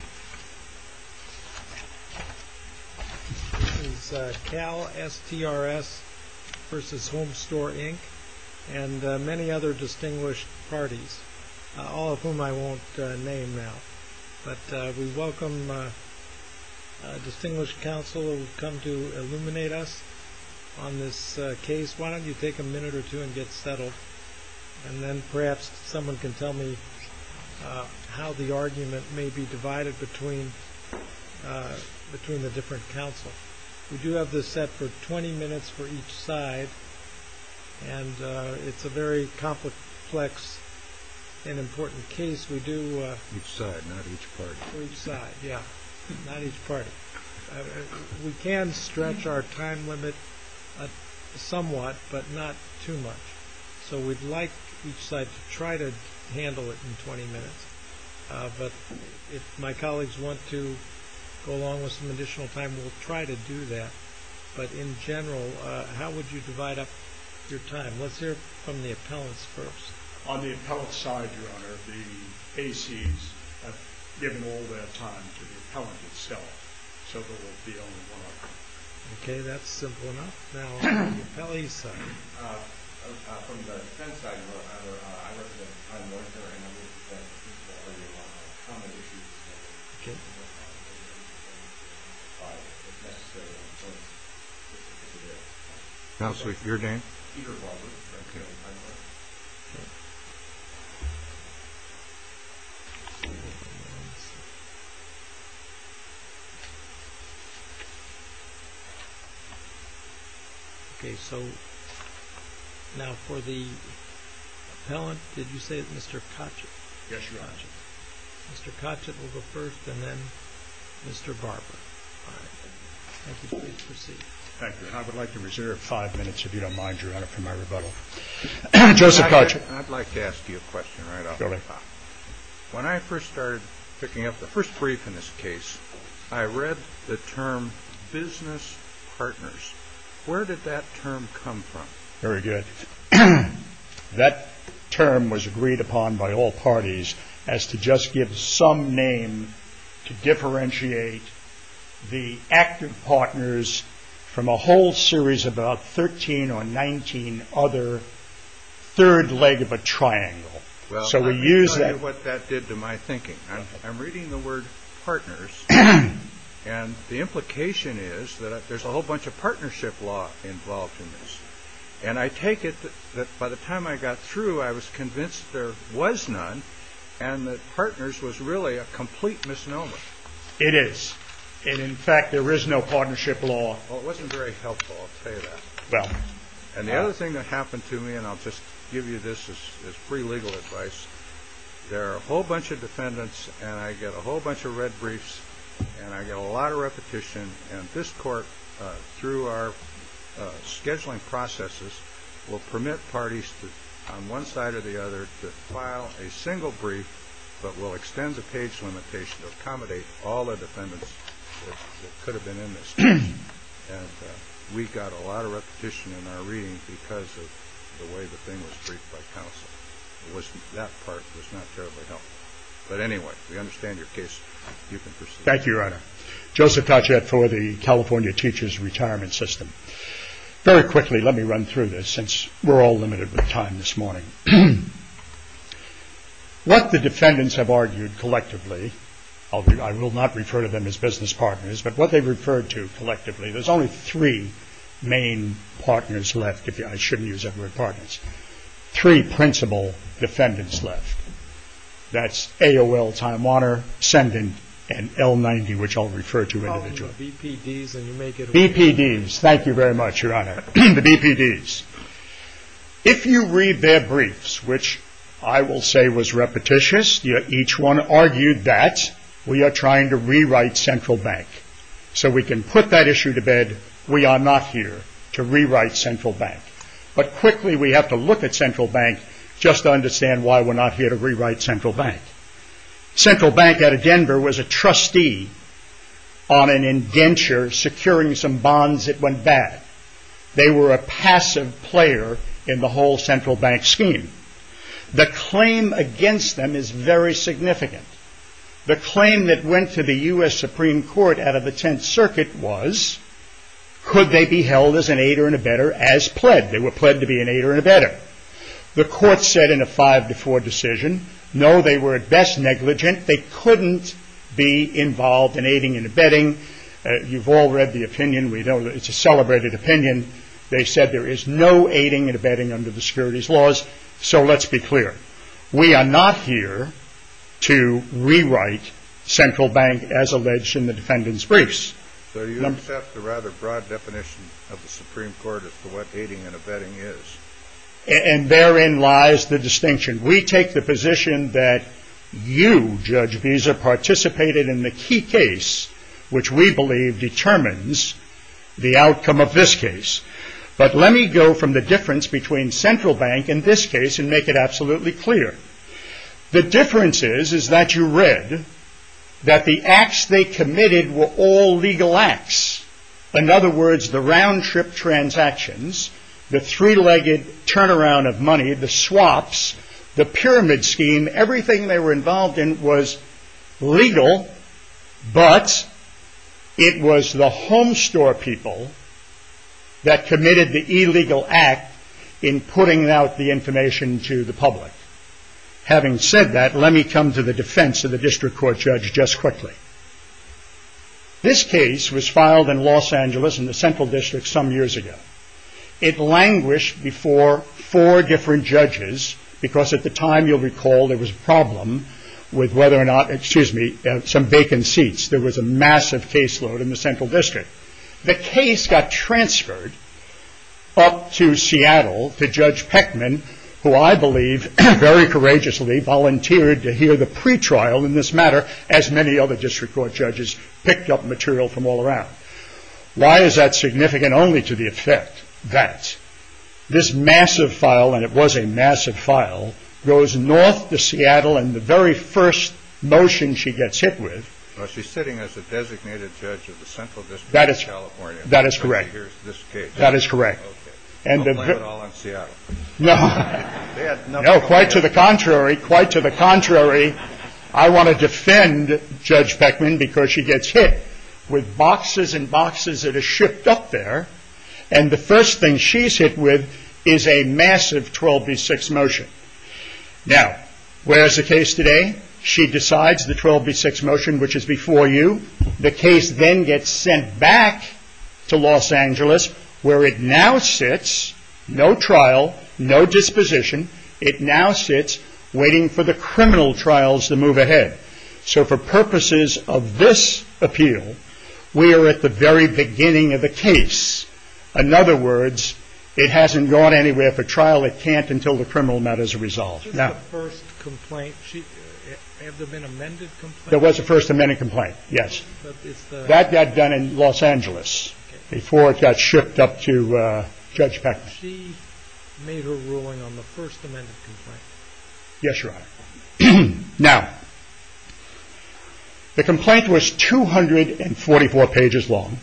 This is CalSTRS v. Homestore, Inc. and many other distinguished parties, all of whom I won't name now. But we welcome a distinguished counsel who will come to illuminate us on this case. Why don't you take a minute or two and get settled, and then perhaps someone can tell me how the argument may be divided between the different counsels. We do have this set for 20 minutes for each side, and it's a very complex and important case. We do... Each side, not each party. Each side, yeah. Not each party. We can stretch our time limit somewhat, but not too much. So we'd like each side to try to handle it in 20 minutes. But if my colleagues want to go along with some additional time, we'll try to do that. But in general, how would you divide up your time? Let's hear from the appellants first. On the appellant side, Your Honor, the ACs have given all their time to the appellant itself, so there will be only one of them. Okay, that's simple enough. Now on the appellee side. From the defense side, Your Honor, I work at the Time and Law Center, and I'm with the defense principal. I do a lot of common issues. Okay. Counselor, your name? Peter Baldwin. Okay. Okay. Okay, so now for the appellant, did you say Mr. Kochet? Yes, Your Honor. Mr. Kochet will go first, and then Mr. Barber. All right. Thank you, please proceed. Thank you. I would like to reserve five minutes, if you don't mind, Your Honor, for my rebuttal. Joseph Kochet. I'd like to ask you a question right off the top. Go ahead. When I first started picking up the first brief in this case, I read the term business partners. Where did that term come from? Very good. That term was agreed upon by all parties as to just give some name to differentiate the active partners from a whole series of about 13 or 19 other third leg of a triangle. Well, let me tell you what that did to my thinking. I'm reading the word partners, and the implication is that there's a whole bunch of partnership law involved in this. And I take it that by the time I got through, I was convinced there was none, and that partners was really a complete misnomer. It is. And in fact, there is no partnership law. Well, it wasn't very helpful, I'll tell you that. Well. And the other thing that happened to me, and I'll just give you this as pre-legal advice, there are a whole bunch of defendants, and I get a whole bunch of red briefs, and I get a lot of repetition. And this court, through our scheduling processes, will permit parties on one side or the other to file a single brief, but will extend the page limitation to accommodate all the defendants that could have been in this case. And we got a lot of repetition in our reading because of the way the thing was briefed by counsel. That part was not terribly helpful. But anyway, we understand your case. You can proceed. Thank you, Your Honor. Joseph Tachet for the California Teachers Retirement System. Very quickly, let me run through this, since we're all limited with time this morning. What the defendants have argued collectively, I will not refer to them as business partners, but what they've referred to collectively, there's only three main partners left. I shouldn't use that word, partners. Three principal defendants left. That's AOL Time Warner, Ascendant, and L90, which I'll refer to individually. BPDs, thank you very much, Your Honor. The BPDs. If you read their briefs, which I will say was repetitious, each one argued that we are trying to rewrite Central Bank. So we can put that issue to bed. We are not here to rewrite Central Bank. But quickly, we have to look at Central Bank just to understand why we're not here to rewrite Central Bank. Central Bank out of Denver was a trustee on an indenture securing some bonds that went bad. They were a passive player in the whole Central Bank scheme. The claim against them is very significant. The claim that went to the U.S. Supreme Court out of the Tenth Circuit was, could they be held as an aider and abettor as pled? They were pled to be an aider and abettor. The court said in a five to four decision, no, they were at best negligent. They couldn't be involved in aiding and abetting. You've all read the opinion. It's a celebrated opinion. They said there is no aiding and abetting under the securities laws. So let's be clear. We are not here to rewrite Central Bank as alleged in the defendant's briefs. So you accept the rather broad definition of the Supreme Court as to what aiding and abetting is? And therein lies the distinction. We take the position that you, Judge Visa, participated in the key case, which we believe determines the outcome of this case. But let me go from the difference between Central Bank and this case and make it absolutely clear. The difference is that you read that the acts they committed were all legal acts. In other words, the round-trip transactions, the three-legged turnaround of money, the swaps, the pyramid scheme, everything they were involved in was legal, but it was the homestore people that committed the illegal act in putting out the information to the public. Having said that, let me come to the defense of the district court judge just quickly. This case was filed in Los Angeles in the Central District some years ago. It languished before four different judges because at the time, you'll recall, there was a problem with whether or not, excuse me, some vacant seats. There was a massive caseload in the Central District. The case got transferred up to Seattle to Judge Peckman, who I believe very courageously volunteered to hear the pretrial in this matter, as many other district court judges picked up material from all around. Why is that significant? Only to the effect that this massive file, and it was a massive file, goes north to Seattle in the very first motion she gets hit with. She's sitting as a designated judge of the Central District of California. That is correct. I'll blame it all on Seattle. No, quite to the contrary. I want to defend Judge Peckman because she gets hit with boxes and boxes that are shipped up there. The first thing she's hit with is a massive 12 v. 6 motion. Now, where is the case today? She decides the 12 v. 6 motion, which is before you. The case then gets sent back to Los Angeles, where it now sits, no trial, no disposition. It now sits waiting for the criminal trials to move ahead. So for purposes of this appeal, we are at the very beginning of the case. In other words, it hasn't gone anywhere for trial. It can't until the criminal matter is resolved. Was this the first complaint? Have there been amended complaints? There was a first amended complaint, yes. That got done in Los Angeles before it got shipped up to Judge Peckman. She made her ruling on the first amended complaint. Yes, Your Honor. Now, the complaint was 244 pages long,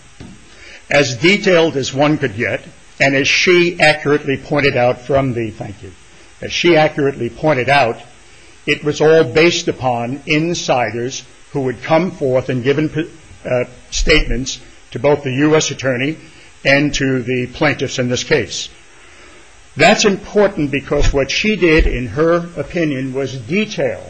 as detailed as one could get, and as she accurately pointed out from the, thank you, as she accurately pointed out, it was all based upon insiders who would come forth and give statements to both the U.S. Attorney and to the plaintiffs in this case. That's important because what she did, in her opinion, was detail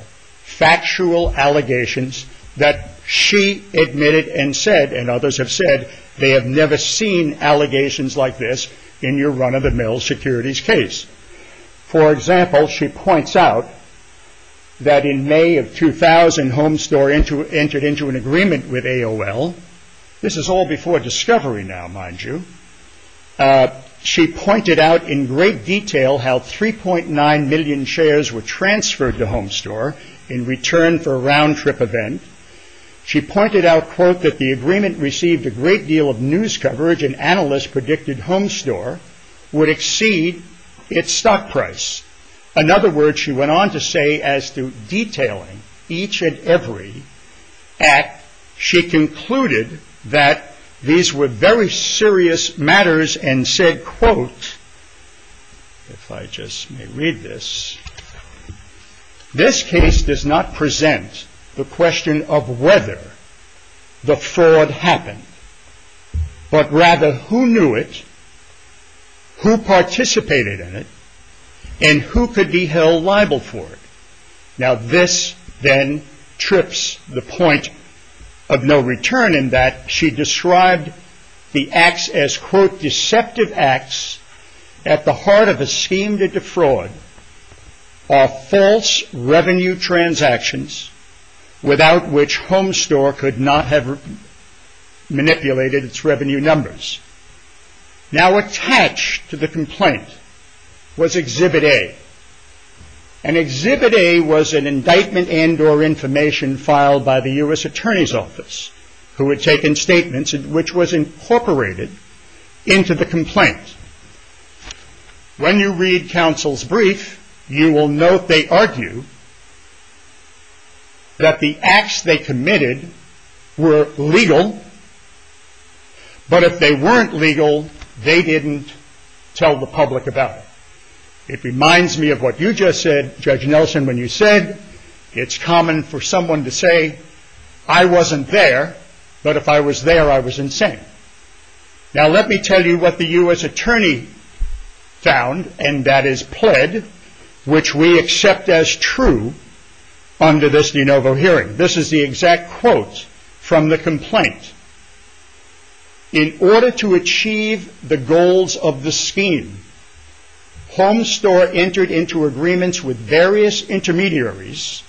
factual allegations that she admitted and said, and others have said, they have never seen allegations like this in your run-of-the-mill securities case. For example, she points out that in May of 2000, Homestore entered into an agreement with AOL. This is all before discovery now, mind you. She pointed out in great detail how 3.9 million shares were transferred to Homestore in return for a round-trip event. She pointed out, quote, that the agreement received a great deal of news coverage and analysts predicted Homestore would exceed its stock price. In other words, she went on to say as to detailing each and every act, she concluded that these were very serious matters and said, quote, if I just may read this, this case does not present the question of whether the fraud happened, but rather who knew it, who participated in it, and who could be held liable for it. Now this then trips the point of no return in that she described the acts as, quote, deceptive acts at the heart of a scheme to defraud or false revenue transactions without which Homestore could not have manipulated its revenue numbers. Now attached to the complaint was Exhibit A. And Exhibit A was an indictment and or information filed by the U.S. Attorney's Office who had taken statements which was incorporated into the complaint. When you read counsel's brief, you will note they argue that the acts they committed were legal, but if they weren't legal, they didn't tell the public about it. It reminds me of what you just said, Judge Nelson, when you said it's common for someone to say, I wasn't there, but if I was there, I was insane. Now let me tell you what the U.S. Attorney found, and that is pled, which we accept as true under this de novo hearing. This is the exact quote from the complaint. In order to achieve the goals of the scheme, Homestore entered into agreements with various intermediaries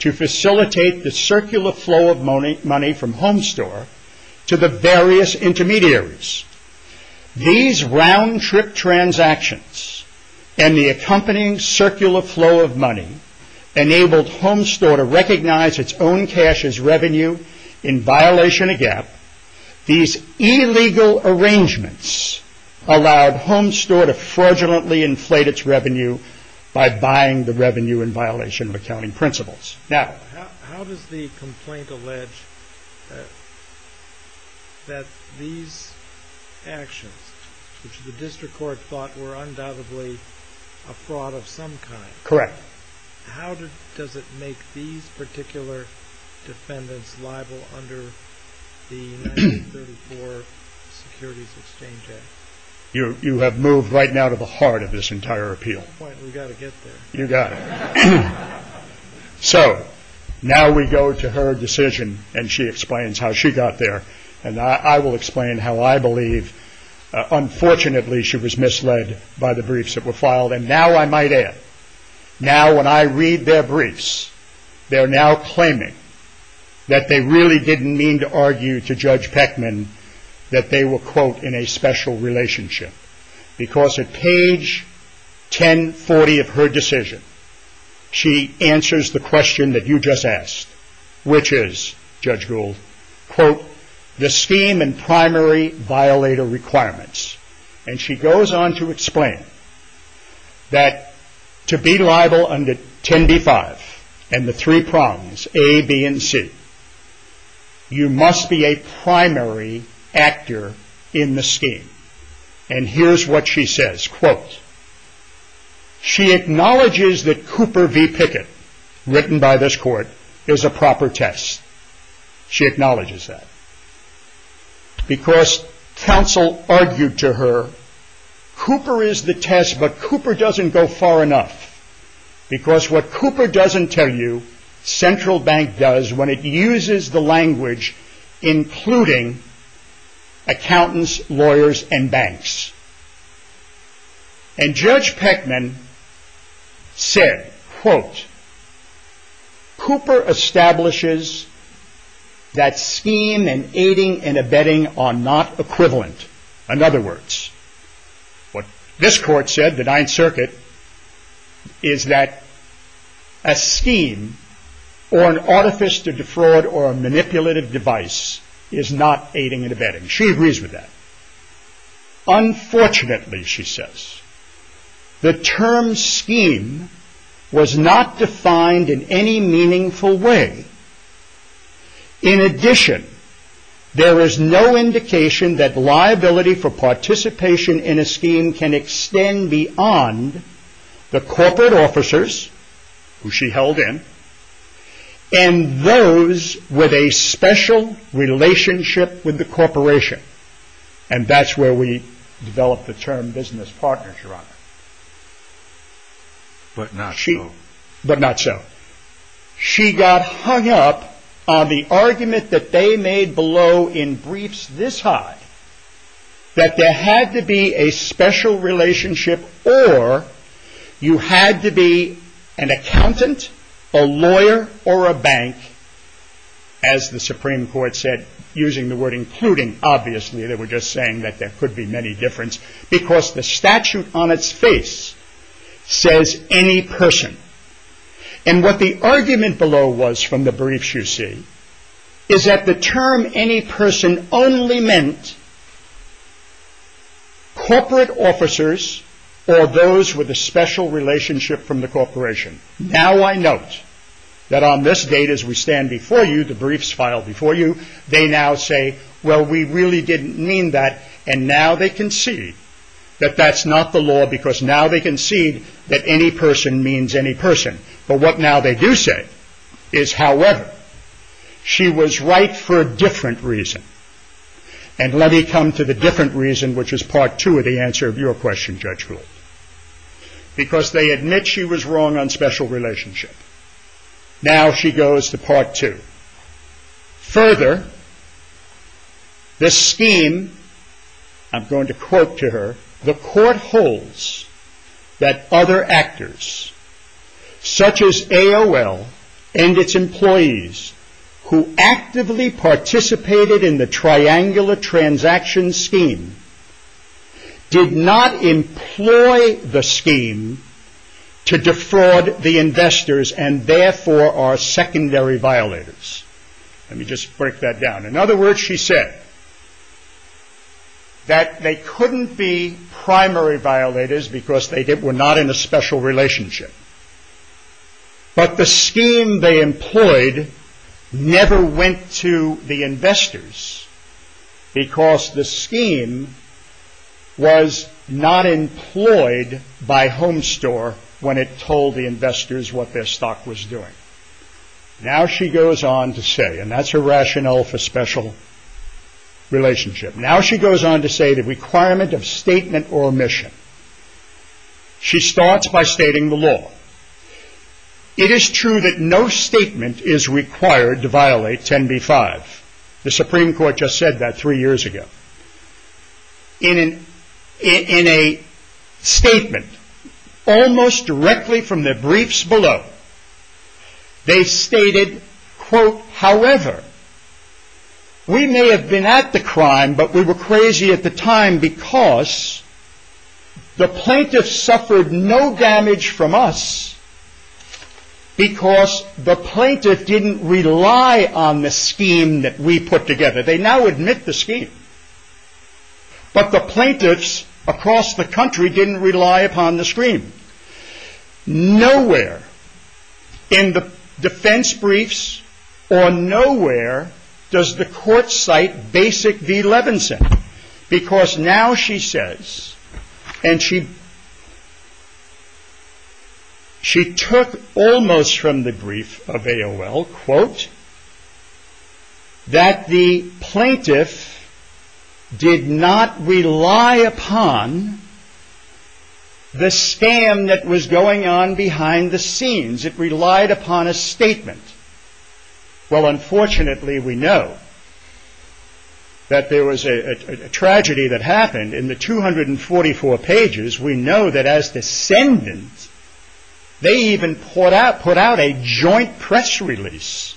to facilitate the circular flow of money from Homestore to the various intermediaries. These round-trip transactions and the accompanying circular flow of money enabled Homestore to recognize its own cash as revenue in violation of GAAP. These illegal arrangements allowed Homestore to fraudulently inflate its revenue by buying the revenue in violation of accounting principles. Now, how does the complaint allege that these actions, which the district court thought were undoubtedly a fraud of some kind, correct? How does it make these particular defendants liable under the 1934 Securities Exchange Act? You have moved right now to the heart of this entire appeal. We've got to get there. You've got to. So now we go to her decision, and she explains how she got there, and I will explain how I believe, unfortunately, she was misled by the briefs that were filed. And now I might add, now when I read their briefs, they're now claiming that they really didn't mean to argue to Judge Peckman that they were, quote, in a special relationship. Because at page 1040 of her decision, she answers the question that you just asked, which is, Judge Gould, quote, the scheme and primary violator requirements. And she goes on to explain that to be liable under 10b-5 and the three prongs, A, B, and C, you must be a primary actor in the scheme. And here's what she says, quote, she acknowledges that Cooper v. Pickett, written by this court, is a proper test. She acknowledges that. Because counsel argued to her, Cooper is the test, but Cooper doesn't go far enough. Because what Cooper doesn't tell you, Central Bank does when it uses the language, including accountants, lawyers, and banks. And Judge Peckman said, quote, Cooper establishes that scheme and aiding and abetting are not equivalent. In other words, what this court said, the Ninth Circuit, is that a scheme or an artifice to defraud or a manipulative device is not aiding and abetting. She agrees with that. Unfortunately, she says, the term scheme was not defined in any meaningful way. In addition, there is no indication that liability for participation in a scheme can extend beyond the corporate officers, who she held in, and those with a special relationship with the corporation. And that's where we develop the term business partners, Your Honor. But not so. But not so. She got hung up on the argument that they made below in briefs this high, that there had to be a special relationship, or you had to be an accountant, a lawyer, or a bank, as the Supreme Court said, using the word including. Obviously, they were just saying that there could be many difference, because the statute on its face says any person. And what the argument below was from the briefs you see, is that the term any person only meant corporate officers, or those with a special relationship from the corporation. Now I note that on this date as we stand before you, the briefs filed before you, they now say, well, we really didn't mean that, and now they concede that that's not the law, because now they concede that any person means any person. But what now they do say is, however, she was right for a different reason. And let me come to the different reason, which is part two of the answer of your question, Judge Gould. Because they admit she was wrong on special relationship. Now she goes to part two. Further, the scheme, I'm going to quote to her, the court holds that other actors, such as AOL and its employees, who actively participated in the triangular transaction scheme, did not employ the scheme to defraud the investors, and therefore are secondary violators. Let me just break that down. In other words, she said that they couldn't be primary violators, because they were not in a special relationship. But the scheme they employed never went to the investors, because the scheme was not employed by Homestore when it told the investors what their stock was doing. Now she goes on to say, and that's her rationale for special relationship. Now she goes on to say the requirement of statement or omission. She starts by stating the law. It is true that no statement is required to violate 10b-5. The Supreme Court just said that three years ago. In a statement, almost directly from the briefs below, they stated, quote, however, we may have been at the crime, but we were crazy at the time, because the plaintiff suffered no damage from us, because the plaintiff didn't rely on the scheme that we put together. They now admit the scheme. But the plaintiffs across the country didn't rely upon the scheme. Nowhere in the defense briefs, or nowhere does the court cite Basic v. Levinson, because now she says, and she took almost from the brief of AOL, quote, that the plaintiff did not rely upon the scam that was going on behind the scenes. It relied upon a statement. Well, unfortunately, we know that there was a tragedy that happened in the 244 pages. We know that as descendants, they even put out a joint press release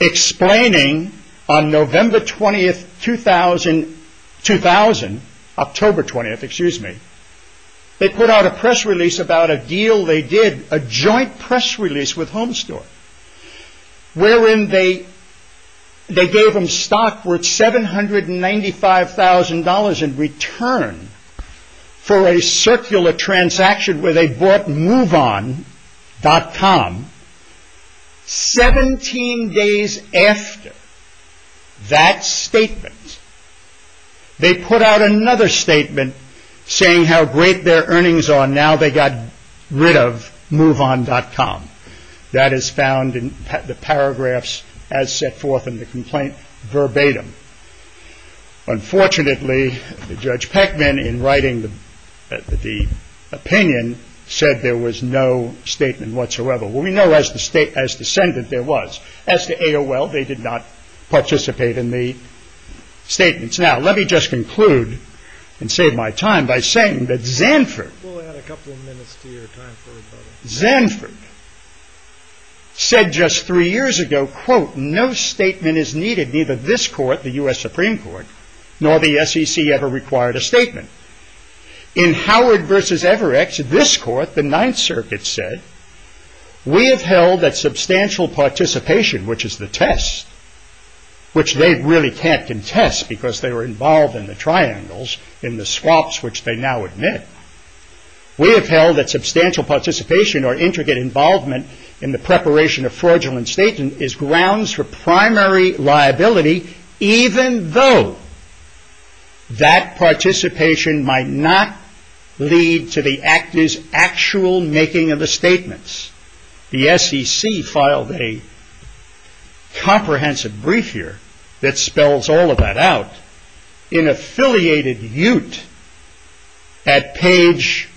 explaining on November 20, 2000, October 20, excuse me, they put out a press release about a deal they did, a joint press release with Home Store, wherein they gave them stock worth $795,000 in return for a circular transaction where they bought moveon.com. 17 days after that statement, they put out another statement saying how great their earnings are. Now they got rid of moveon.com. That is found in the paragraphs as set forth in the complaint verbatim. Unfortunately, Judge Peckman, in writing the opinion, said there was no statement whatsoever. Well, we know as descendant there was. As to AOL, they did not participate in the statements. Now, let me just conclude and save my time by saying that Zanford, Zanford said just three years ago, quote, no statement is needed. Neither this court, the U.S. Supreme Court, nor the SEC ever required a statement. In Howard versus Everett, this court, the Ninth Circuit said, we have held that substantial participation, which is the test, which they really can't contest because they were involved in the triangles in the swaps which they now admit. We have held that substantial participation or intricate involvement in the preparation of fraudulent statements is grounds for primary liability, even though that participation might not lead to the actor's actual making of the statements. The SEC filed a comprehensive brief here that spells all of that out. In affiliated ute at page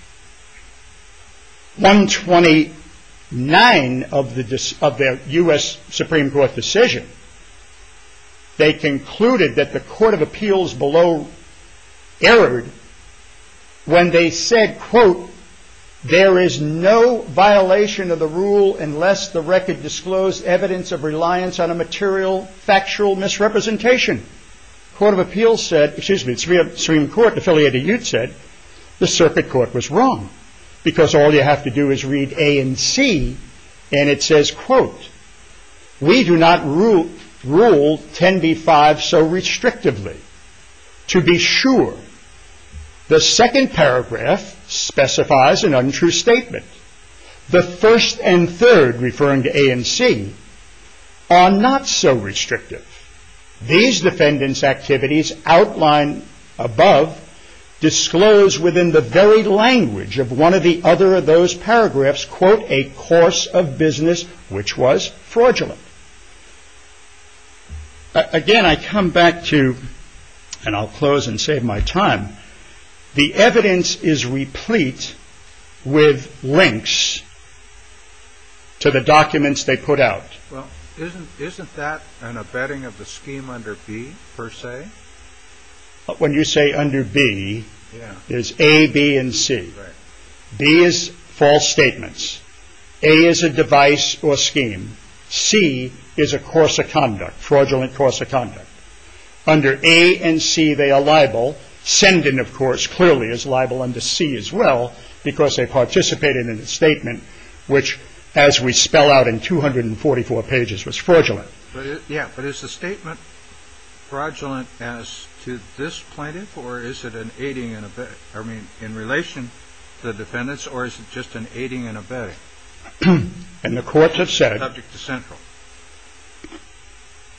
129 of the U.S. Supreme Court decision, they concluded that the court of appeals below erred when they said, quote, there is no violation of the rule unless the record disclosed evidence of reliance on a material factual misrepresentation. The Supreme Court affiliated ute said the circuit court was wrong because all you have to do is read A and C and it says, quote, we do not rule 10b-5 so restrictively. To be sure, the second paragraph specifies an untrue statement. The first and third referring to A and C are not so restrictive. These defendants' activities outlined above disclose within the very language of one of the other of those paragraphs, quote, a course of business which was fraudulent. Again, I come back to, and I'll close and save my time, the evidence is replete with links to the documents they put out. Well, isn't that an abetting of the scheme under B per se? When you say under B, there's A, B, and C. B is false statements. A is a device or scheme. C is a course of conduct, fraudulent course of conduct. Under A and C, they are liable. Sendon, of course, clearly is liable under C as well because they participated in a statement which, as we spell out in 244 pages, was fraudulent. Yeah, but is the statement fraudulent as to this plaintiff or is it an aiding and abetting? I mean, in relation to the defendants or is it just an aiding and abetting? And the courts have said... Subject to Central.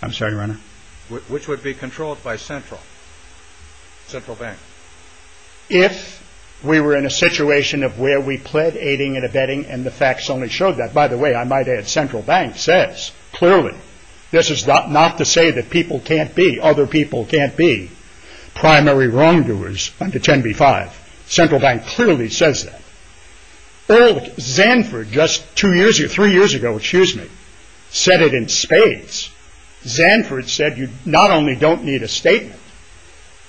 I'm sorry, Your Honor. Which would be controlled by Central, Central Bank. If we were in a situation of where we pled aiding and abetting and the facts only show that. By the way, I might add, Central Bank says clearly this is not to say that people can't be, other people can't be primary wrongdoers under 10b-5. Central Bank clearly says that. Zanford just two years ago, three years ago, excuse me, said it in spades. Zanford said you not only don't need a statement,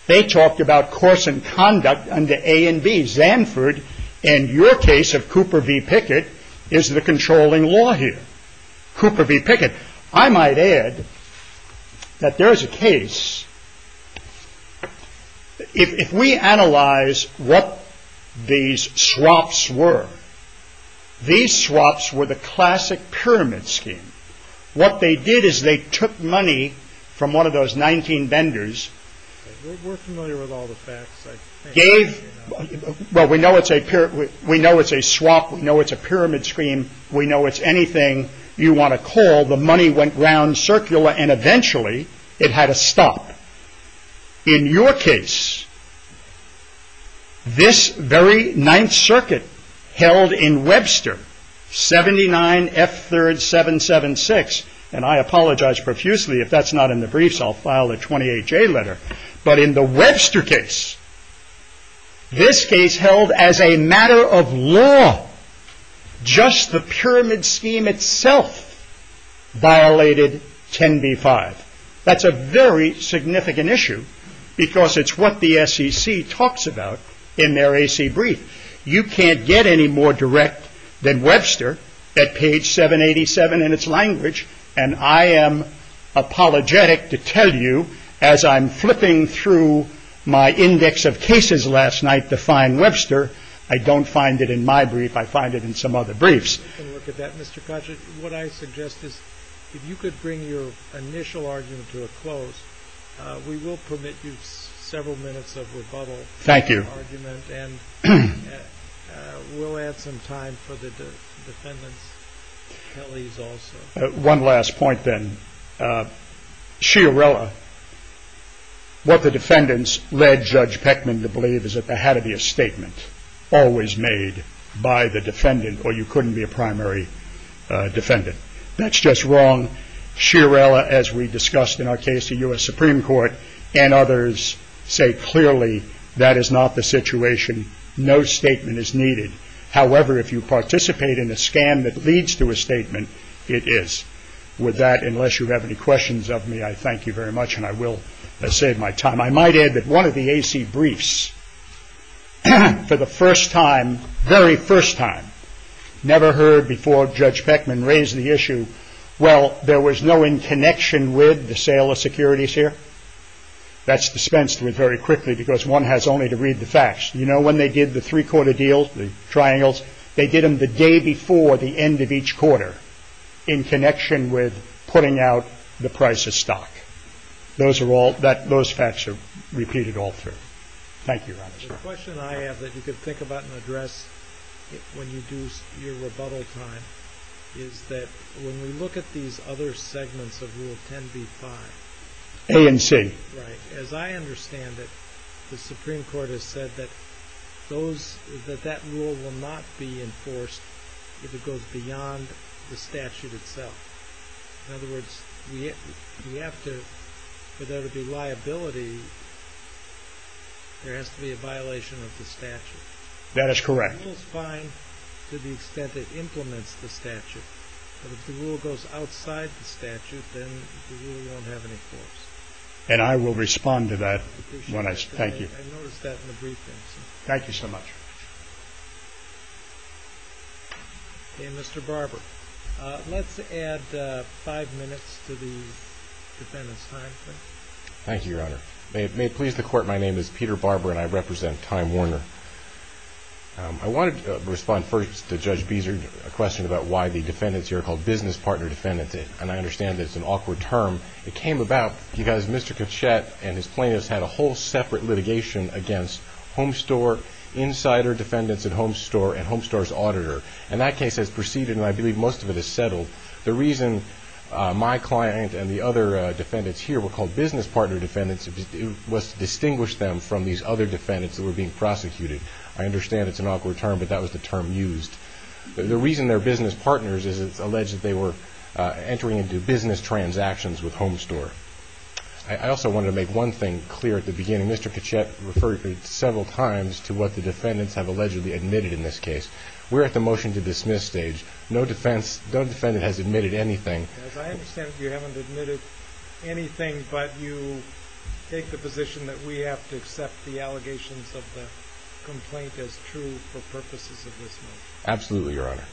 they talked about course and conduct under A and B. Zanford and your case of Cooper v. Pickett is the controlling law here. Cooper v. Pickett. I might add that there is a case. If we analyze what these swaps were, these swaps were the classic pyramid scheme. What they did is they took money from one of those 19 vendors. We're familiar with all the facts. We know it's a swap. We know it's a pyramid scheme. We know it's anything you want to call. The money went round circular and eventually it had to stop. In your case, this very Ninth Circuit held in Webster, 79F3rd776, and I apologize profusely if that's not in the briefs, I'll file a 28J letter. But in the Webster case, this case held as a matter of law. Just the pyramid scheme itself violated 10B5. That's a very significant issue because it's what the SEC talks about in their AC brief. You can't get any more direct than Webster at page 787 in its language. And I am apologetic to tell you as I'm flipping through my index of cases last night to find Webster, I don't find it in my brief. I find it in some other briefs. If you could bring your initial argument to a close, we will permit you several minutes of rebuttal. Thank you. And we'll add some time for the defendants. One last point then. Chiarella, what the defendants led Judge Peckman to believe is that there had to be a statement always made by the defendant or you couldn't be a primary defendant. That's just wrong. Chiarella, as we discussed in our case to U.S. Supreme Court, and others say clearly that is not the situation. No statement is needed. However, if you participate in a scan that leads to a statement, it is. With that, unless you have any questions of me, I thank you very much and I will save my time. I might add that one of the AC briefs, for the first time, very first time, never heard before Judge Peckman raise the issue, well, there was no in connection with the sale of securities here. You know, when they did the three-quarter deal, the triangles, they did them the day before the end of each quarter in connection with putting out the price of stock. Those facts are repeated all through. Thank you, Roberts. The question I have that you could think about and address when you do your rebuttal time is that when we look at these other segments of Rule 10b-5... A and C. Right. As I understand it, the Supreme Court has said that those... that that rule will not be enforced if it goes beyond the statute itself. In other words, we have to... for there to be liability, there has to be a violation of the statute. That is correct. The rule is fine to the extent it implements the statute, but if the rule goes outside the statute, then the rule won't have any force. And I will respond to that when I... Thank you. I noticed that in the briefing. Thank you so much. Okay, Mr. Barber. Let's add five minutes to the defendant's time, please. Thank you, Your Honor. May it please the Court, my name is Peter Barber and I represent Time Warner. I wanted to respond first to Judge Beeser, a question about why the defendants here are called business partner defendants. And I understand that it's an awkward term. It came about because Mr. Kitchett and his plaintiffs had a whole separate litigation against Homestore, insider defendants at Homestore, and Homestore's auditor. And that case has proceeded, and I believe most of it has settled. The reason my client and the other defendants here were called business partner defendants was to distinguish them from these other defendants that were being prosecuted. I understand it's an awkward term, but that was the term used. The reason they're business partners is it's alleged that they were doing business transactions with Homestore. I also wanted to make one thing clear at the beginning. Mr. Kitchett referred several times to what the defendants have allegedly admitted in this case. We're at the motion to dismiss stage. No defendant has admitted anything. As I understand it, you haven't admitted anything, but you take the position that we have to accept the allegations of the complaint as true for purposes of this motion. Absolutely, Your Honor.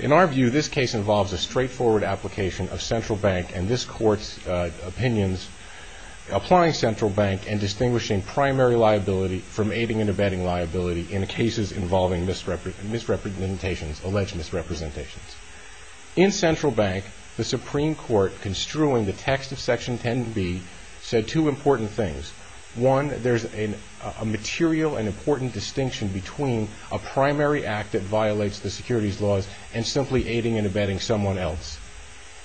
In our view, this case involves a straightforward application of Central Bank and this Court's opinions applying Central Bank and distinguishing primary liability from aiding and abetting liability in cases involving misrepresentations, alleged misrepresentations. In Central Bank, the Supreme Court, construing the text of Section 10b, said two important things. One, there's a material and important distinction between a primary act that violates the securities laws and simply aiding and abetting someone else.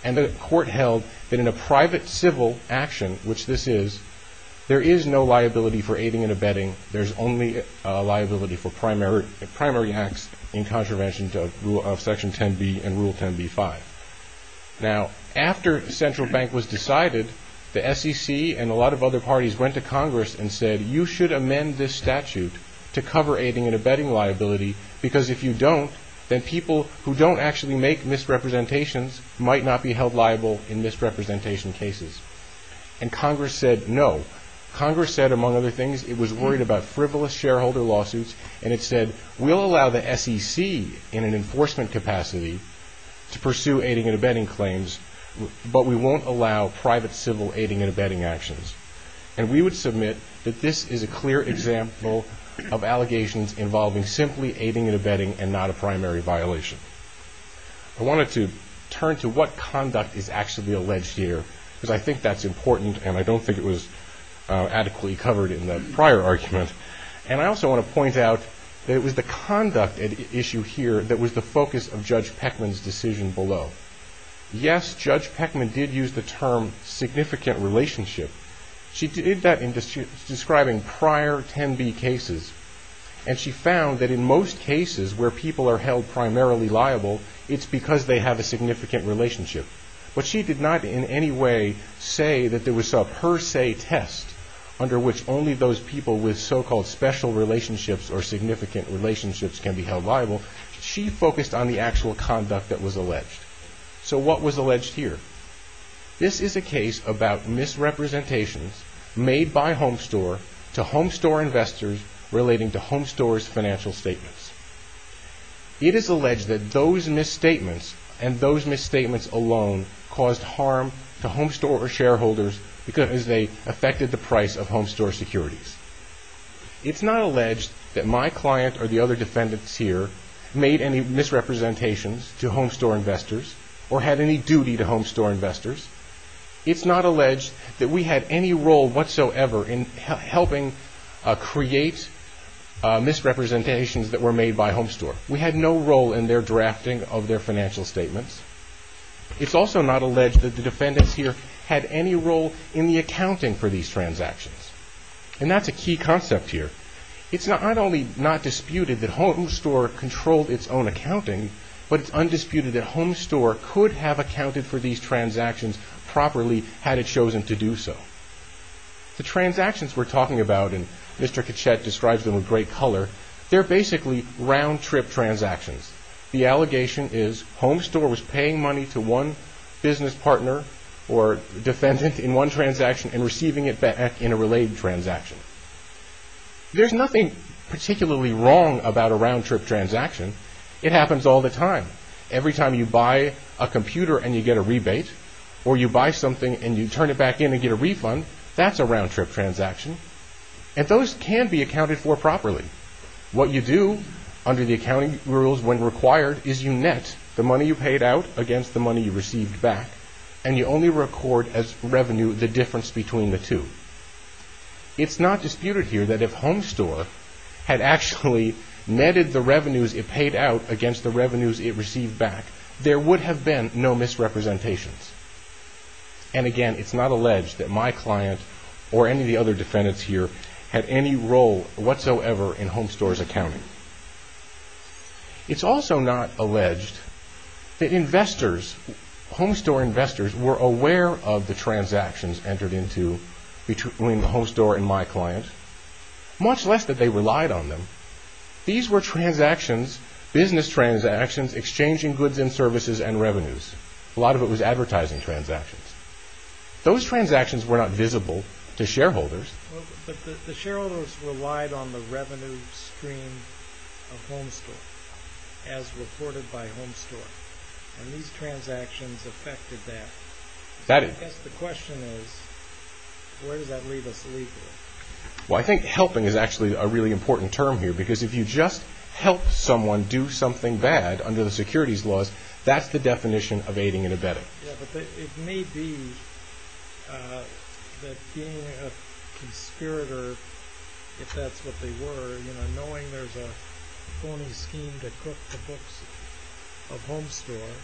And the Court held that in a private civil action, which this is, there is no liability for aiding and abetting. There's only liability for primary acts in contravention of Section 10b and Rule 10b-5. Now, after Central Bank was decided, the SEC and a lot of other parties went to Congress and said, you should amend this statute to cover aiding and abetting liability because if you don't, then people who don't actually make misrepresentations might not be held liable in misrepresentation cases. And Congress said no. Congress said, among other things, it was worried about frivolous shareholder lawsuits and it said, we'll allow the SEC in an enforcement capacity to pursue aiding and abetting claims, but we won't allow private civil aiding and abetting actions. And we would submit that this is a clear example of allegations involving simply aiding and abetting and not a primary violation. I wanted to turn to what conduct is actually alleged here because I think that's important and I don't think it was adequately covered in the prior argument. And I also want to point out that it was the conduct at issue here that was the focus of Judge Peckman's decision below. Yes, Judge Peckman did use the term significant relationship. She did that in describing prior 10B cases and she found that in most cases where people are held primarily liable, it's because they have a significant relationship. But she did not in any way say that there was a per se test under which only those people with so-called special relationships or significant relationships can be held liable. She focused on the actual conduct that was alleged. So what was alleged here? This is a case about misrepresentations made by Homestore to Homestore investors relating to Homestore's financial statements. It is alleged that those misstatements and those misstatements alone caused harm to Homestore or shareholders because they affected the price of Homestore securities. It's not alleged that my client or the other defendants here made any misrepresentations to Homestore investors or had any duty to Homestore investors. It's not alleged that we had any role whatsoever in helping create misrepresentations that were made by Homestore. We had no role in their drafting of their financial statements. It's also not alleged that the defendants here had any role in the accounting for these transactions. And that's a key concept here. It's not only not disputed that Homestore controlled its own accounting, but it's undisputed that Homestore could have accounted for these transactions properly had it chosen to do so. The transactions we're talking about, and Mr. Kachet describes them in great color, they're basically round-trip transactions. The allegation is Homestore was paying money to one business partner or defendant in one transaction and receiving it back in a related transaction. There's nothing particularly wrong about a round-trip transaction. It happens all the time. Every time you buy a computer and you get a rebate, or you buy something and you turn it back in and get a refund, that's a round-trip transaction. And those can be accounted for properly. What you do under the accounting rules when required is you net the money you paid out against the money you received back, and you only record as revenue the difference between the two. It's not disputed here that if Homestore had actually netted the revenues it paid out against the revenues it received back, there would have been no misrepresentations. And again, it's not alleged that my client or any of the other defendants here had any role whatsoever in Homestore's accounting. It's also not alleged that investors, Homestore investors, were aware of the transactions entered into between the Homestore and my client, much less that they relied on them. These were transactions, business transactions, exchanging goods and services and revenues. A lot of it was advertising transactions. Those transactions were not visible to shareholders. The shareholders relied on the revenue stream of Homestore, as reported by Homestore. And these transactions affected that. I guess the question is, where does that leave us legally? Well, I think helping is actually a really important term here, because if you just help someone do something bad under the securities laws, that's the definition of aiding and abetting. Yeah, but it may be that being a conspirator, if that's what they were, knowing there's a phony scheme to cook the books of Homestore,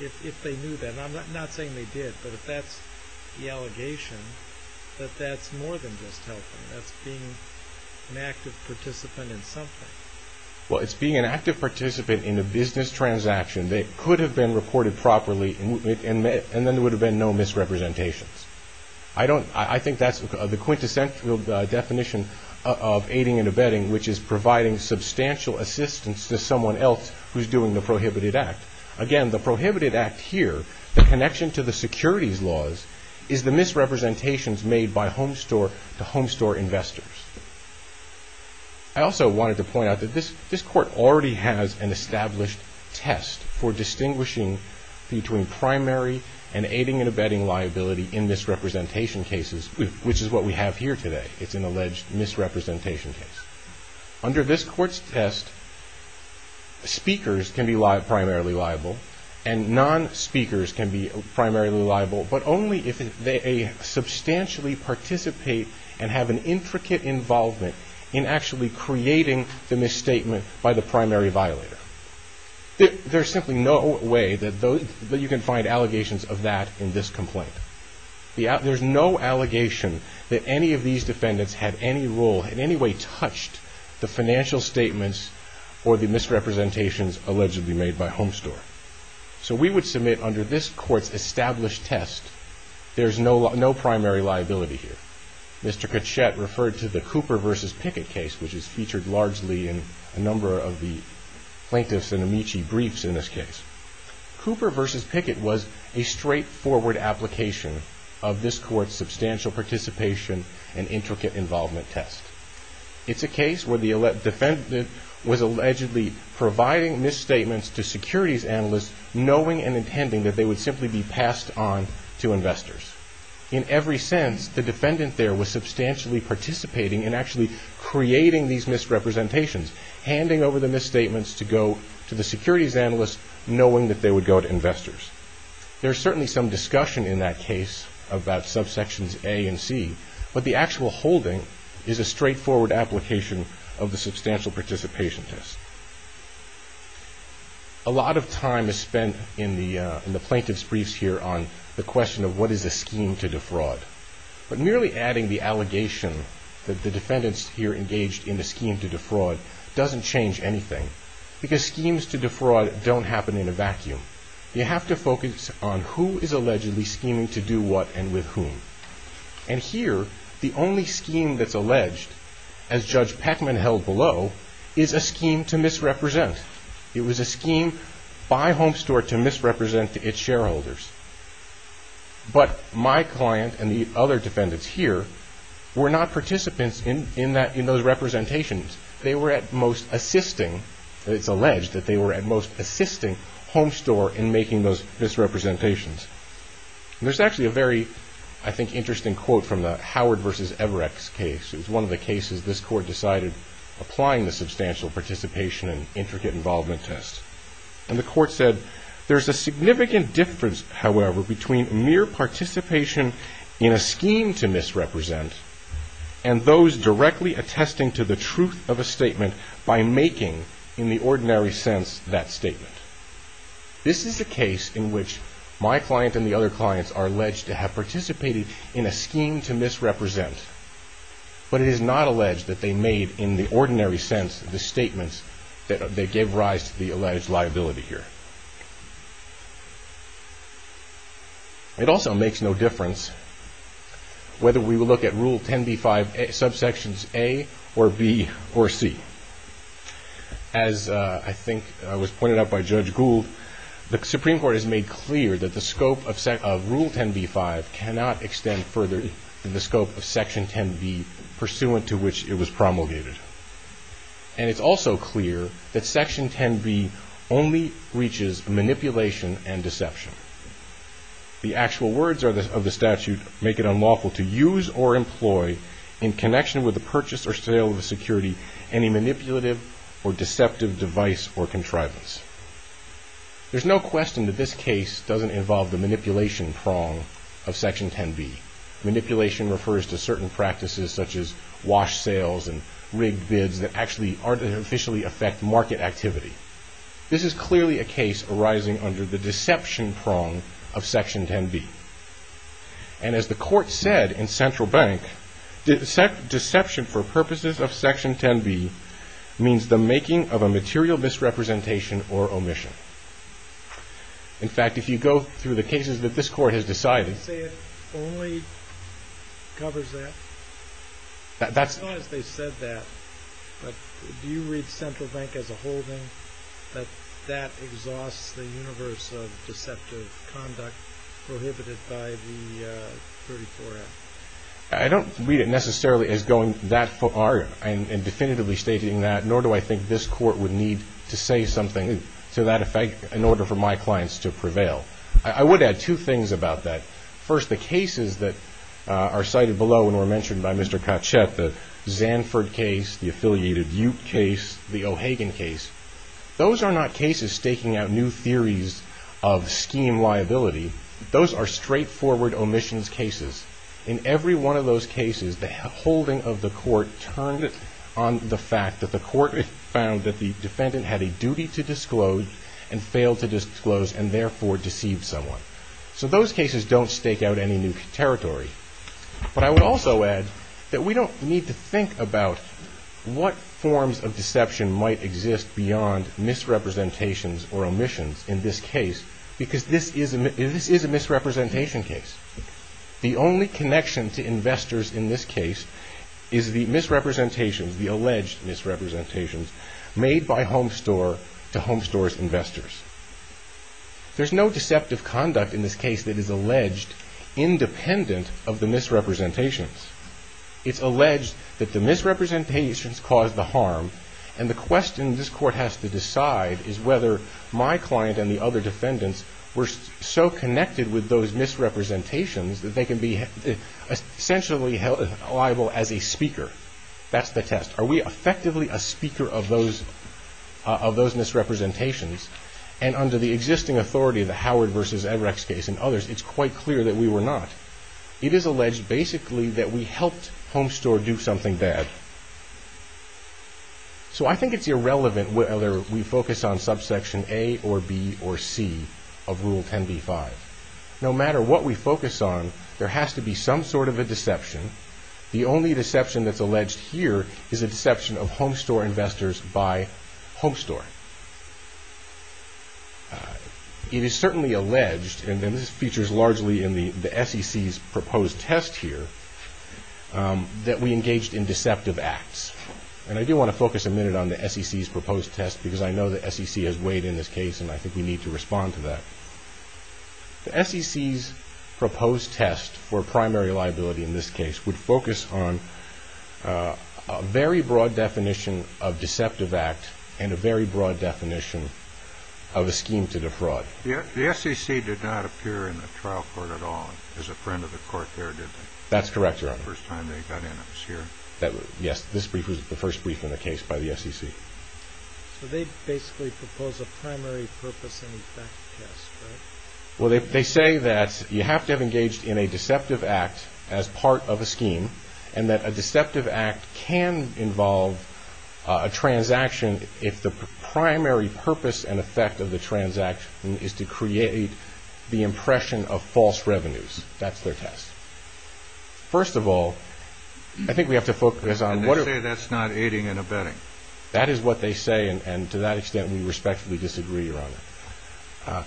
if they knew that, and I'm not saying they did, but if that's the allegation, that that's more than just helping. That's being an active participant in something. Well, it's being an active participant in a business transaction that could have been reported properly, and then there would have been no misrepresentations. I think that's the quintessential definition of aiding and abetting, which is providing substantial assistance to someone else who's doing the prohibited act. Again, the prohibited act here, the connection to the securities laws, is the misrepresentations made by Homestore to Homestore investors. I also wanted to point out that this court already has an established test for distinguishing between primary and aiding and abetting liability in misrepresentation cases, which is what we have here today. It's an alleged misrepresentation case. Under this court's test, speakers can be primarily liable, and non-speakers can be primarily liable, but only if they substantially participate and have an intricate involvement in actually creating the misstatement by the primary violator. There's simply no way that you can find allegations of that in this complaint. There's no allegation that any of these defendants had any role, in any way touched, the financial statements or the misrepresentations allegedly made by Homestore. So we would submit, under this court's established test, there's no primary liability here. Mr. Kachet referred to the Cooper v. Pickett case, which is featured largely in a number of the plaintiffs' and Amici briefs in this case. Cooper v. Pickett was a straightforward application of this court's substantial participation and intricate involvement test. It's a case where the defendant was allegedly providing misstatements to securities analysts, knowing and intending that they would simply be passed on to investors. In every sense, the defendant there was substantially participating in actually creating these misrepresentations, handing over the misstatements to the securities analysts, knowing that they would go to investors. There's certainly some discussion in that case about subsections A and C, but the actual holding is a straightforward application of the substantial participation test. A lot of time is spent in the plaintiffs' briefs here on the question of what is a scheme to defraud. But merely adding the allegation that the defendants here engaged in a scheme to defraud doesn't change anything, because schemes to defraud don't happen in a vacuum. You have to focus on who is allegedly scheming to do what and with whom. And here, the only scheme that's alleged, as Judge Peckman held below, is a scheme to misrepresent. It was a scheme by Homestore to misrepresent its shareholders. But my client and the other defendants here were not participants in those representations. They were at most assisting, it's alleged that they were at most assisting Homestore in making those misrepresentations. There's actually a very, I think, interesting quote from the Howard v. Everett case. It was one of the cases this court decided applying the substantial participation and intricate involvement test. And the court said, there's a significant difference, however, between mere participation in a scheme to misrepresent and those directly attesting to the truth of a statement by making, in the ordinary sense, that statement. This is a case in which my client and the other clients are alleged to have participated in a scheme to misrepresent. But it is not alleged that they made, in the ordinary sense, the statement that they gave rise to the alleged liability here. It also makes no difference whether we look at Rule 10b-5, subsections A or B or C. As I think was pointed out by Judge Gould, the Supreme Court has made clear that the scope of Rule 10b-5 cannot extend further than the scope of Section 10b, pursuant to which it was promulgated. And it's also clear that Section 10b only breaches manipulation and deception. The actual words of the statute make it unlawful to use or employ, in connection with the purchase or sale of a security, any manipulative or deceptive device or contrivance. There's no question that this case doesn't involve the manipulation prong of Section 10b. Manipulation refers to certain practices such as wash sales and rigged bids that actually artificially affect market activity. This is clearly a case arising under the deception prong of Section 10b. And as the Court said in Central Bank, deception for purposes of Section 10b means the making of a material misrepresentation or omission. In fact, if you go through the cases that this Court has decided... I don't read it necessarily as going that far and definitively stating that, nor do I think this Court would need to say something to that effect in order for my clients to prevail. I would add two things about that. First, the cases that are cited below and were mentioned by Mr. Kotchett, the Zanford case, the affiliated Ute case, the O'Hagan case, those are not cases staking out new theories of scheme liability. Those are straightforward omissions cases. In every one of those cases, the holding of the Court turned on the fact that the Court found that the defendant had a duty to disclose and failed to disclose and therefore deceived someone. So those cases don't stake out any new territory. But I would also add that we don't need to think about what forms of deception might exist beyond misrepresentations or omissions in this case because this is a misrepresentation case. The only connection to investors in this case is the misrepresentations, the alleged misrepresentations, made by Homestore to Homestore's investors. There's no deceptive conduct in this case that is alleged independent of the misrepresentations. It's alleged that the misrepresentations caused the harm and the question this Court has to decide is whether my client and the other defendants were so connected with those misrepresentations that they can be essentially liable as a speaker. That's the test. Are we effectively a speaker of those misrepresentations? And under the existing authority of the Howard v. Edrecks case and others, it's quite clear that we were not. It is alleged basically that we helped Homestore do something bad. So I think it's irrelevant whether we focus on subsection A or B or C of Rule 10b-5. No matter what we focus on, there has to be some sort of a deception. The only deception that's alleged here is a deception of Homestore investors by Homestore. It is certainly alleged, and this features largely in the SEC's proposed test here, that we engaged in deceptive acts. And I do want to focus a minute on the SEC's proposed test because I know the SEC has weighed in this case and I think we need to respond to that. The SEC's proposed test for primary liability in this case would focus on a very broad definition of deceptive act and a very broad definition of a scheme to defraud. The SEC did not appear in the trial court at all as a friend of the Court there, did they? That's correct, Your Honor. The first time they got in, I was here. Yes, this brief was the first brief in the case by the SEC. So they basically propose a primary purpose and effect test, right? Well, they say that you have to have engaged in a deceptive act as part of a scheme and that a deceptive act can involve a transaction if the primary purpose and effect of the transaction is to create the impression of false revenues. That's their test. First of all, I think we have to focus on... And they say that's not aiding and abetting. That is what they say, and to that extent we respectfully disagree, Your Honor.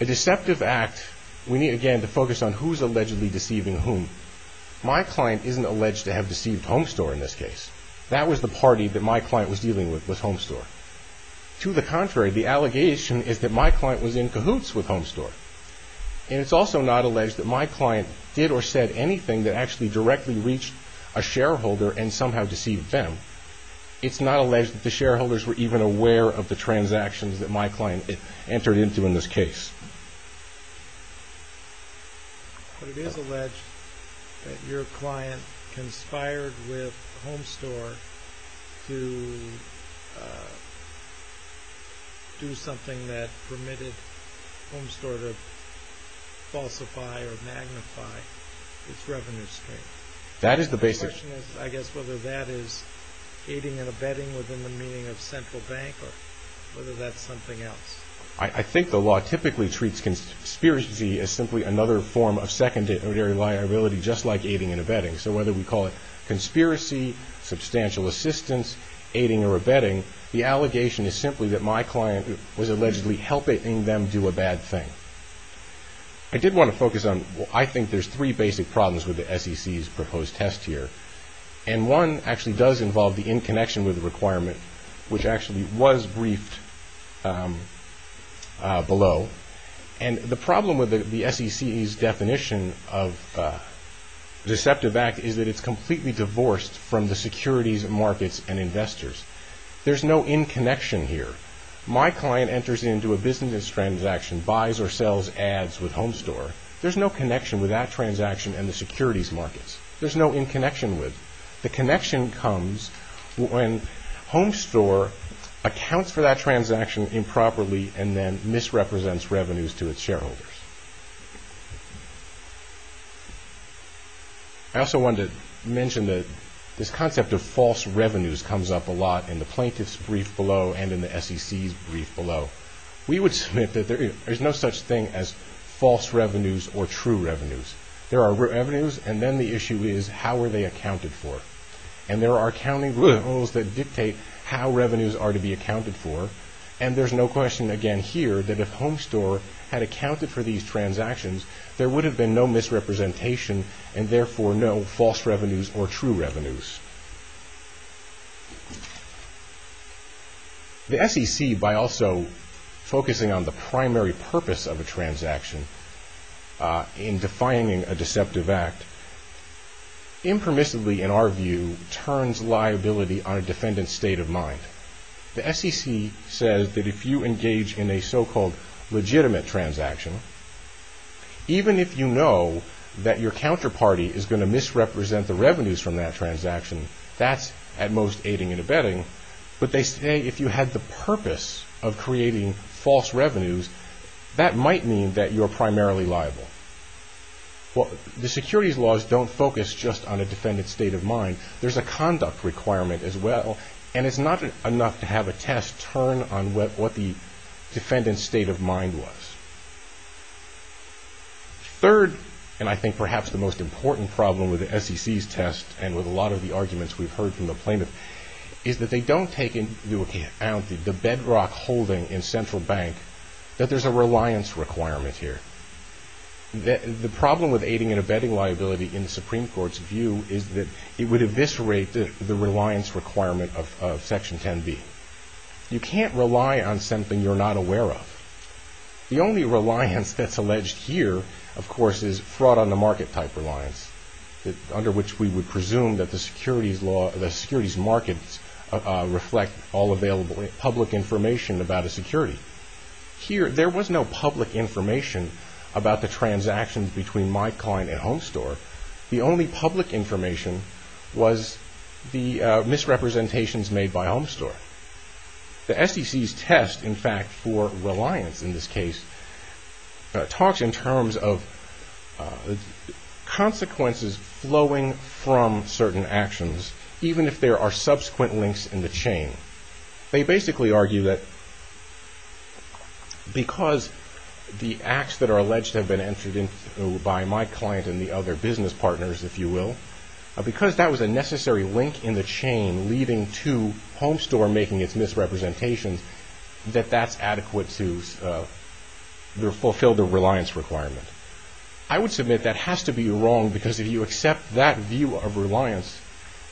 A deceptive act, we need again to focus on who's allegedly deceiving whom. My client isn't alleged to have deceived Homestore in this case. That was the party that my client was dealing with, was Homestore. To the contrary, the allegation is that my client was in cahoots with Homestore. And it's also not alleged that my client did or said anything that actually directly reached a shareholder and somehow deceived them. It's not alleged that the shareholders were even aware of the transactions that my client entered into in this case. But it is alleged that your client conspired with Homestore to do something that permitted Homestore to falsify or magnify its revenue stream. That is the basic... My question is, I guess, whether that is aiding and abetting within the meaning of central bank, or whether that's something else. I think the law typically treats conspiracy as simply another form of secondary liability, just like aiding and abetting. So whether we call it conspiracy, substantial assistance, aiding or abetting, the allegation is simply that my client was allegedly helping them do a bad thing. I did want to focus on... I think there's three basic problems with the SEC's proposed test here. And one actually does involve the in connection with the requirement, which actually was briefed below. And the problem with the SEC's definition of deceptive act is that it's completely divorced from the securities markets and investors. There's no in connection here. My client enters into a business transaction, buys or sells ads with Homestore. There's no connection with that transaction and the securities markets. There's no in connection with. The connection comes when Homestore accounts for that transaction improperly and then misrepresents revenues to its shareholders. I also wanted to mention that this concept of false revenues comes up a lot in the plaintiff's brief below and in the SEC's brief below. We would submit that there's no such thing as false revenues or true revenues. There are revenues and then the issue is how are they accounted for. And there are accounting rules that dictate how revenues are to be accounted for. And there's no question again here that if Homestore had accounted for these transactions, there would have been no misrepresentation and therefore no false revenues or true revenues. The SEC, by also focusing on the primary purpose of a transaction in defining a deceptive act, impermissibly, in our view, turns liability on a defendant's state of mind. The SEC says that if you engage in a so-called legitimate transaction, even if you know that your counterparty is going to misrepresent the revenues from that transaction, that's at most aiding and abetting. But they say if you had the purpose of creating false revenues, that might mean that you're primarily liable. The securities laws don't focus just on a defendant's state of mind. There's a conduct requirement as well. And it's not enough to have a test turn on what the defendant's state of mind was. Third, and I think perhaps the most important problem with the SEC's test and with a lot of the arguments we've heard from the plaintiff, is that they don't take into account the bedrock holding in Central Bank that there's a reliance requirement here. The problem with aiding and abetting liability in the Supreme Court's view is that it would eviscerate the reliance requirement of Section 10b. You can't rely on something you're not aware of. The only reliance that's alleged here, of course, is fraud on the market type reliance, under which we would presume that the securities markets reflect all available public information about a security. Here, there was no public information about the transactions between my client and Home Store. The only public information was the misrepresentations made by Home Store. The SEC's test, in fact, for reliance in this case, talks in terms of consequences flowing from certain actions, even if there are subsequent links in the chain. They basically argue that because the acts that are alleged have been entered into by my client and the other business partners, if you will, because that was a necessary link in the chain leading to Home Store making its misrepresentations, that that's adequate to fulfill the reliance requirement. I would submit that has to be wrong, because if you accept that view of reliance,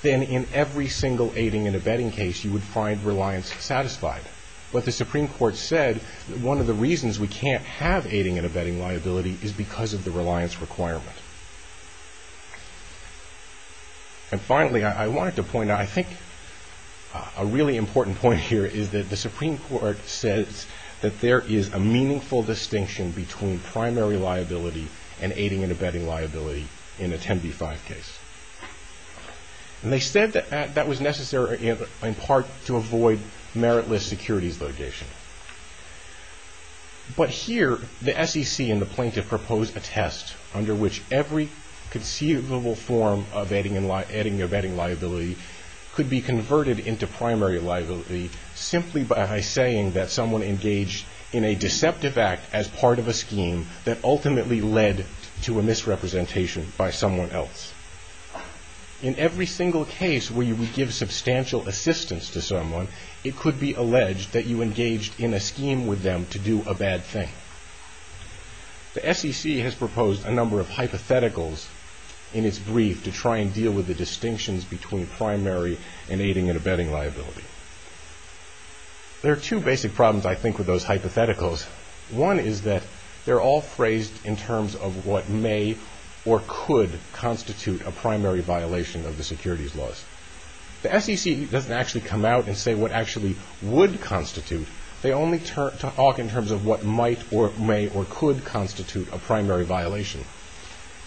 then in every single aiding and abetting case, you would find reliance satisfied. But the Supreme Court said that one of the reasons we can't have aiding and abetting liability is because of the reliance requirement. And finally, I wanted to point out, I think a really important point here, is that the Supreme Court says that there is a meaningful distinction between primary liability and aiding and abetting liability in a 10b-5 case. And they said that that was necessary in part to avoid meritless securities litigation. But here, the SEC and the plaintiff proposed a test under which every conceivable form of aiding and abetting liability could be converted into primary liability simply by saying that someone engaged in a deceptive act as part of a scheme that ultimately led to a misrepresentation by someone else. In every single case where you would give substantial assistance to someone, it could be alleged that you engaged in a scheme with them to do a bad thing. The SEC has proposed a number of hypotheticals in its brief to try and deal with the distinctions between primary and aiding and abetting liability. There are two basic problems, I think, with those hypotheticals. One is that they're all phrased in terms of what may or could constitute a primary violation of the securities laws. The SEC doesn't actually come out and say what actually would constitute. They only talk in terms of what might or may or could constitute a primary violation.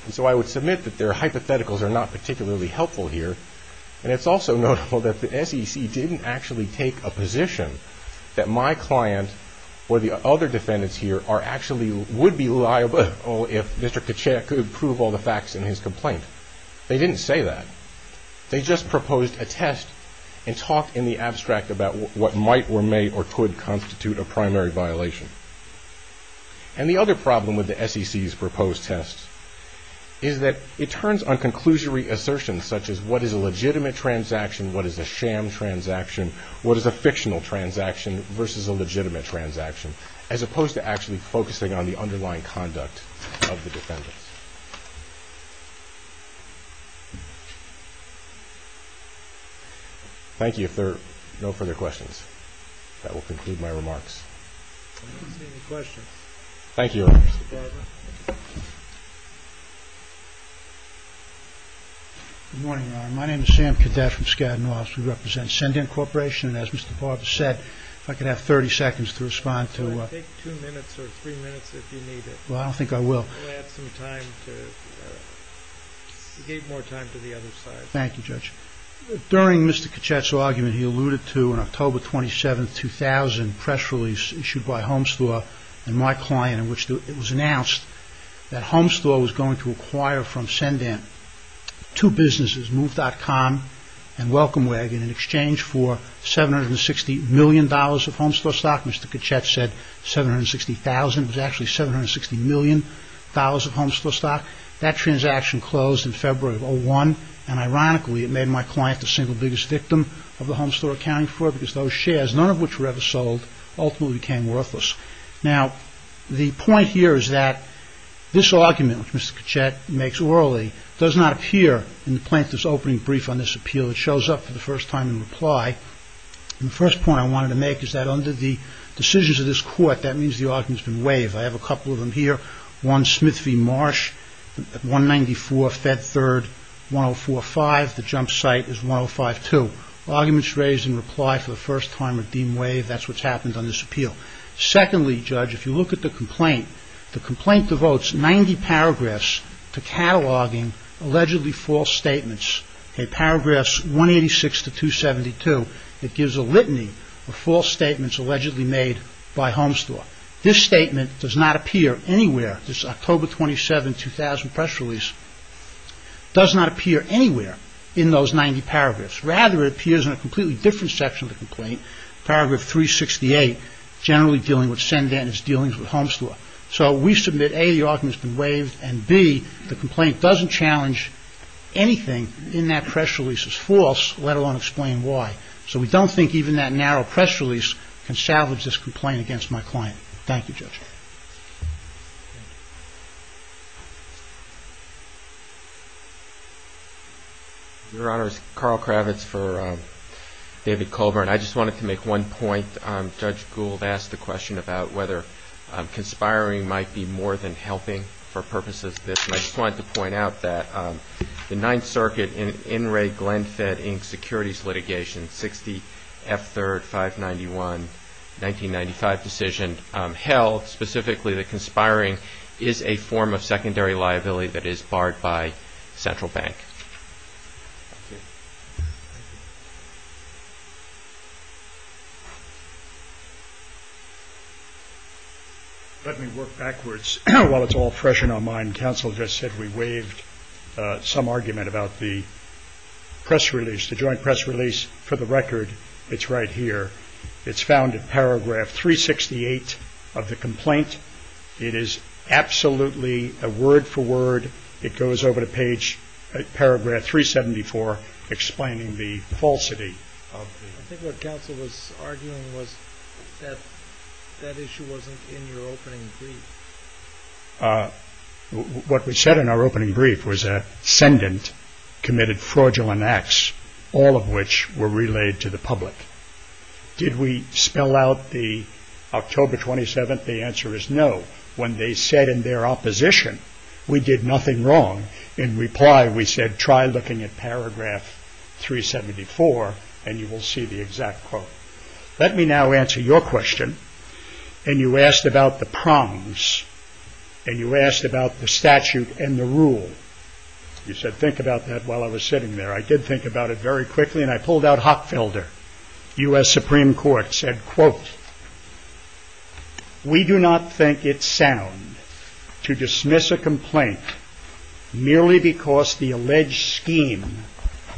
And so I would submit that their hypotheticals are not particularly helpful here. And it's also notable that the SEC didn't actually take a position that my client or the other defendants here actually would be liable if Mr. Kacheya could prove all the facts in his complaint. They didn't say that. They just proposed a test and talked in the abstract about what might or may or could constitute a primary violation. And the other problem with the SEC's proposed test is that it turns on conclusory assertions such as what is a legitimate transaction, what is a sham transaction, what is a fictional transaction versus a legitimate transaction, as opposed to actually focusing on the underlying conduct of the defendants. Thank you. If there are no further questions, that will conclude my remarks. I don't see any questions. Thank you, Your Honor. You're welcome. Good morning, Your Honor. My name is Sam Cadet from Skadden Laws. We represent Send-In Corporation. And as Mr. Barber said, if I could have 30 seconds to respond to a ---- Take two minutes or three minutes if you need it. Well, I don't think I will. I'm going to add some time to get more time to the other side. Thank you, Judge. During Mr. Kachet's argument, he alluded to an October 27, 2000, press release issued by Homestore and my client in which it was announced that Homestore was going to acquire from Send-In two businesses, Move.com and Welcome Wagon, in exchange for $760 million of Homestore stock. Mr. Kachet said $760,000. It was actually $760 million of Homestore stock. That transaction closed in February of 2001, and ironically, it made my client the single biggest victim of the Homestore accounting fraud because those shares, none of which were ever sold, ultimately became worthless. Now, the point here is that this argument, which Mr. Kachet makes orally, does not appear in the plaintiff's opening brief on this appeal. It shows up for the first time in reply, and the first point I wanted to make is that under the decisions of this court, that means the argument has been waived. I have a couple of them here. One, Smith v. Marsh at 194 Fed Third, 1045. The jump site is 1052. Arguments raised in reply for the first time are deemed waived. That's what's happened on this appeal. Secondly, Judge, if you look at the complaint, the complaint devotes 90 paragraphs to cataloging allegedly false statements. In paragraphs 186 to 272, it gives a litany of false statements allegedly made by Homestore. This statement does not appear anywhere. This October 27, 2000 press release does not appear anywhere in those 90 paragraphs. Paragraph 368, generally dealing with send-in is dealing with Homestore. So we submit A, the argument has been waived, and B, the complaint doesn't challenge anything in that press release as false, let alone explain why. So we don't think even that narrow press release can salvage this complaint against my client. Thank you, Judge. Your Honor, Carl Kravitz for David Colburn. I just wanted to make one point. Judge Gould asked the question about whether conspiring might be more than helping for purposes of this. And I just wanted to point out that the Ninth Circuit, in an In re Glenfiddich securities litigation, 60 F3, 591, 1995 decision, held specifically that conspiring is a form of secondary liability that is barred by Central Bank. Let me work backwards. While it's all fresh in our mind, counsel just said we waived some argument about the press release, the joint press release for the record. It's right here. It's found in paragraph 368 of the complaint. It is absolutely a word for word. It goes over to page, paragraph 374, explaining the falsity. I think what counsel was arguing was that that issue wasn't in your opening brief. What we said in our opening brief was that ascendant committed fraudulent acts, all of which were relayed to the public. Did we spell out the October 27th? The answer is no. When they said in their opposition, we did nothing wrong. In reply, we said, try looking at paragraph 374 and you will see the exact quote. Let me now answer your question. And you asked about the prongs. And you asked about the statute and the rule. You said, think about that while I was sitting there. I did think about it very quickly and I pulled out Hockfelder. U.S. Supreme Court said, quote, we do not think it sound to dismiss a complaint merely because the alleged scheme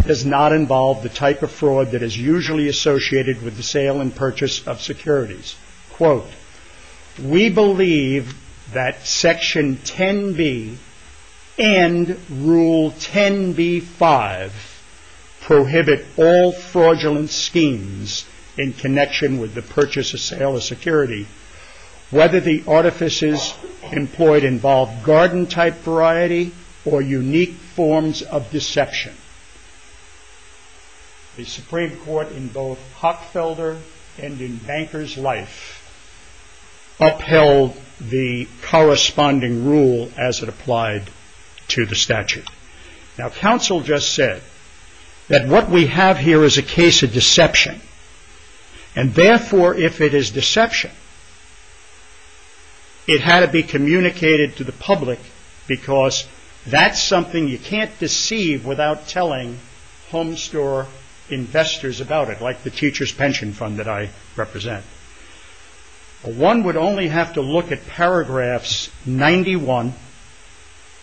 does not involve the type of fraud that is usually associated with the sale and purchase of securities. Quote, we believe that section 10b and rule 10b-5 prohibit all fraudulent schemes in connection with the purchase or sale of security, whether the artifices employed involve garden type variety or unique forms of deception. The Supreme Court in both Hockfelder and in Banker's life upheld the corresponding rule as it applied to the statute. Now, counsel just said that what we have here is a case of deception. And therefore, if it is deception, it had to be communicated to the public because that's something you can't deceive without telling home store investors about it, like the teacher's pension fund that I represent. One would only have to look at paragraphs 91,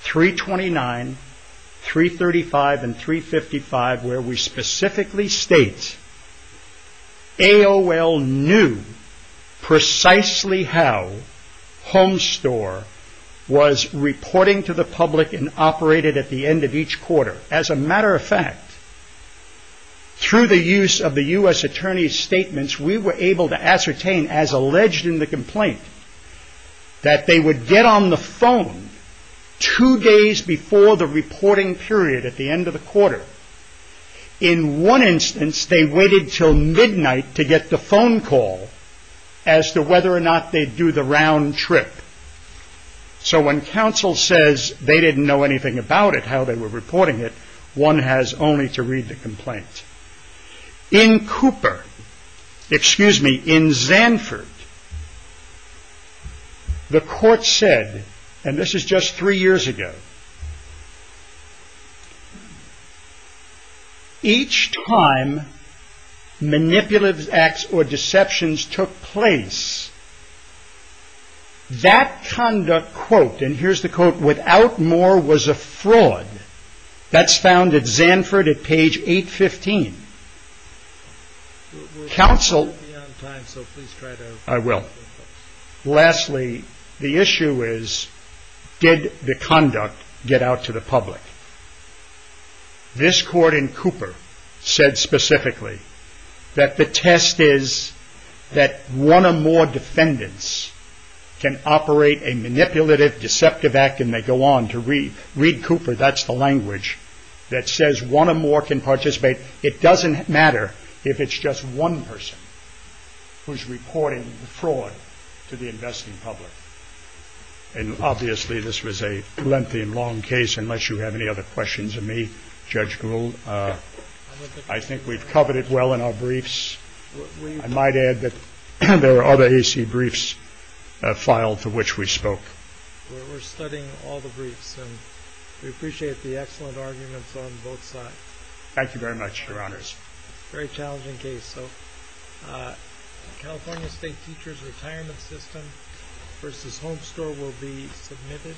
329, 335, and 355, where we specifically state AOL knew precisely how home store was reporting to the public and operated at the end of each quarter. As a matter of fact, through the use of the U.S. Attorney's statements, we were able to ascertain, as alleged in the complaint, that they would get on the phone two days before the reporting period at the end of the quarter In one instance, they waited until midnight to get the phone call as to whether or not they'd do the round trip. So when counsel says they didn't know anything about it, how they were reporting it, one has only to read the complaint. In Cooper, excuse me, in Zanford, the court said, and this is just three years ago, each time manipulative acts or deceptions took place, that conduct, quote, and here's the quote, without more was a fraud. That's found at Zanford at page 815. Counsel, I will. Lastly, the issue is, did the conduct get out to the public? This court in Cooper said specifically that the test is that one or more defendants can operate a manipulative, deceptive act, and they go on to read. Read Cooper, that's the language that says one or more can participate. It doesn't matter if it's just one person who's reporting the fraud to the investing public. And obviously this was a lengthy and long case, unless you have any other questions of me, Judge Gould. I think we've covered it well in our briefs. I might add that there are other AC briefs filed to which we spoke. We're studying all the briefs, and we appreciate the excellent arguments on both sides. Thank you very much, Your Honors. Very challenging case. California State Teachers Retirement System v. Home Store will be submitted.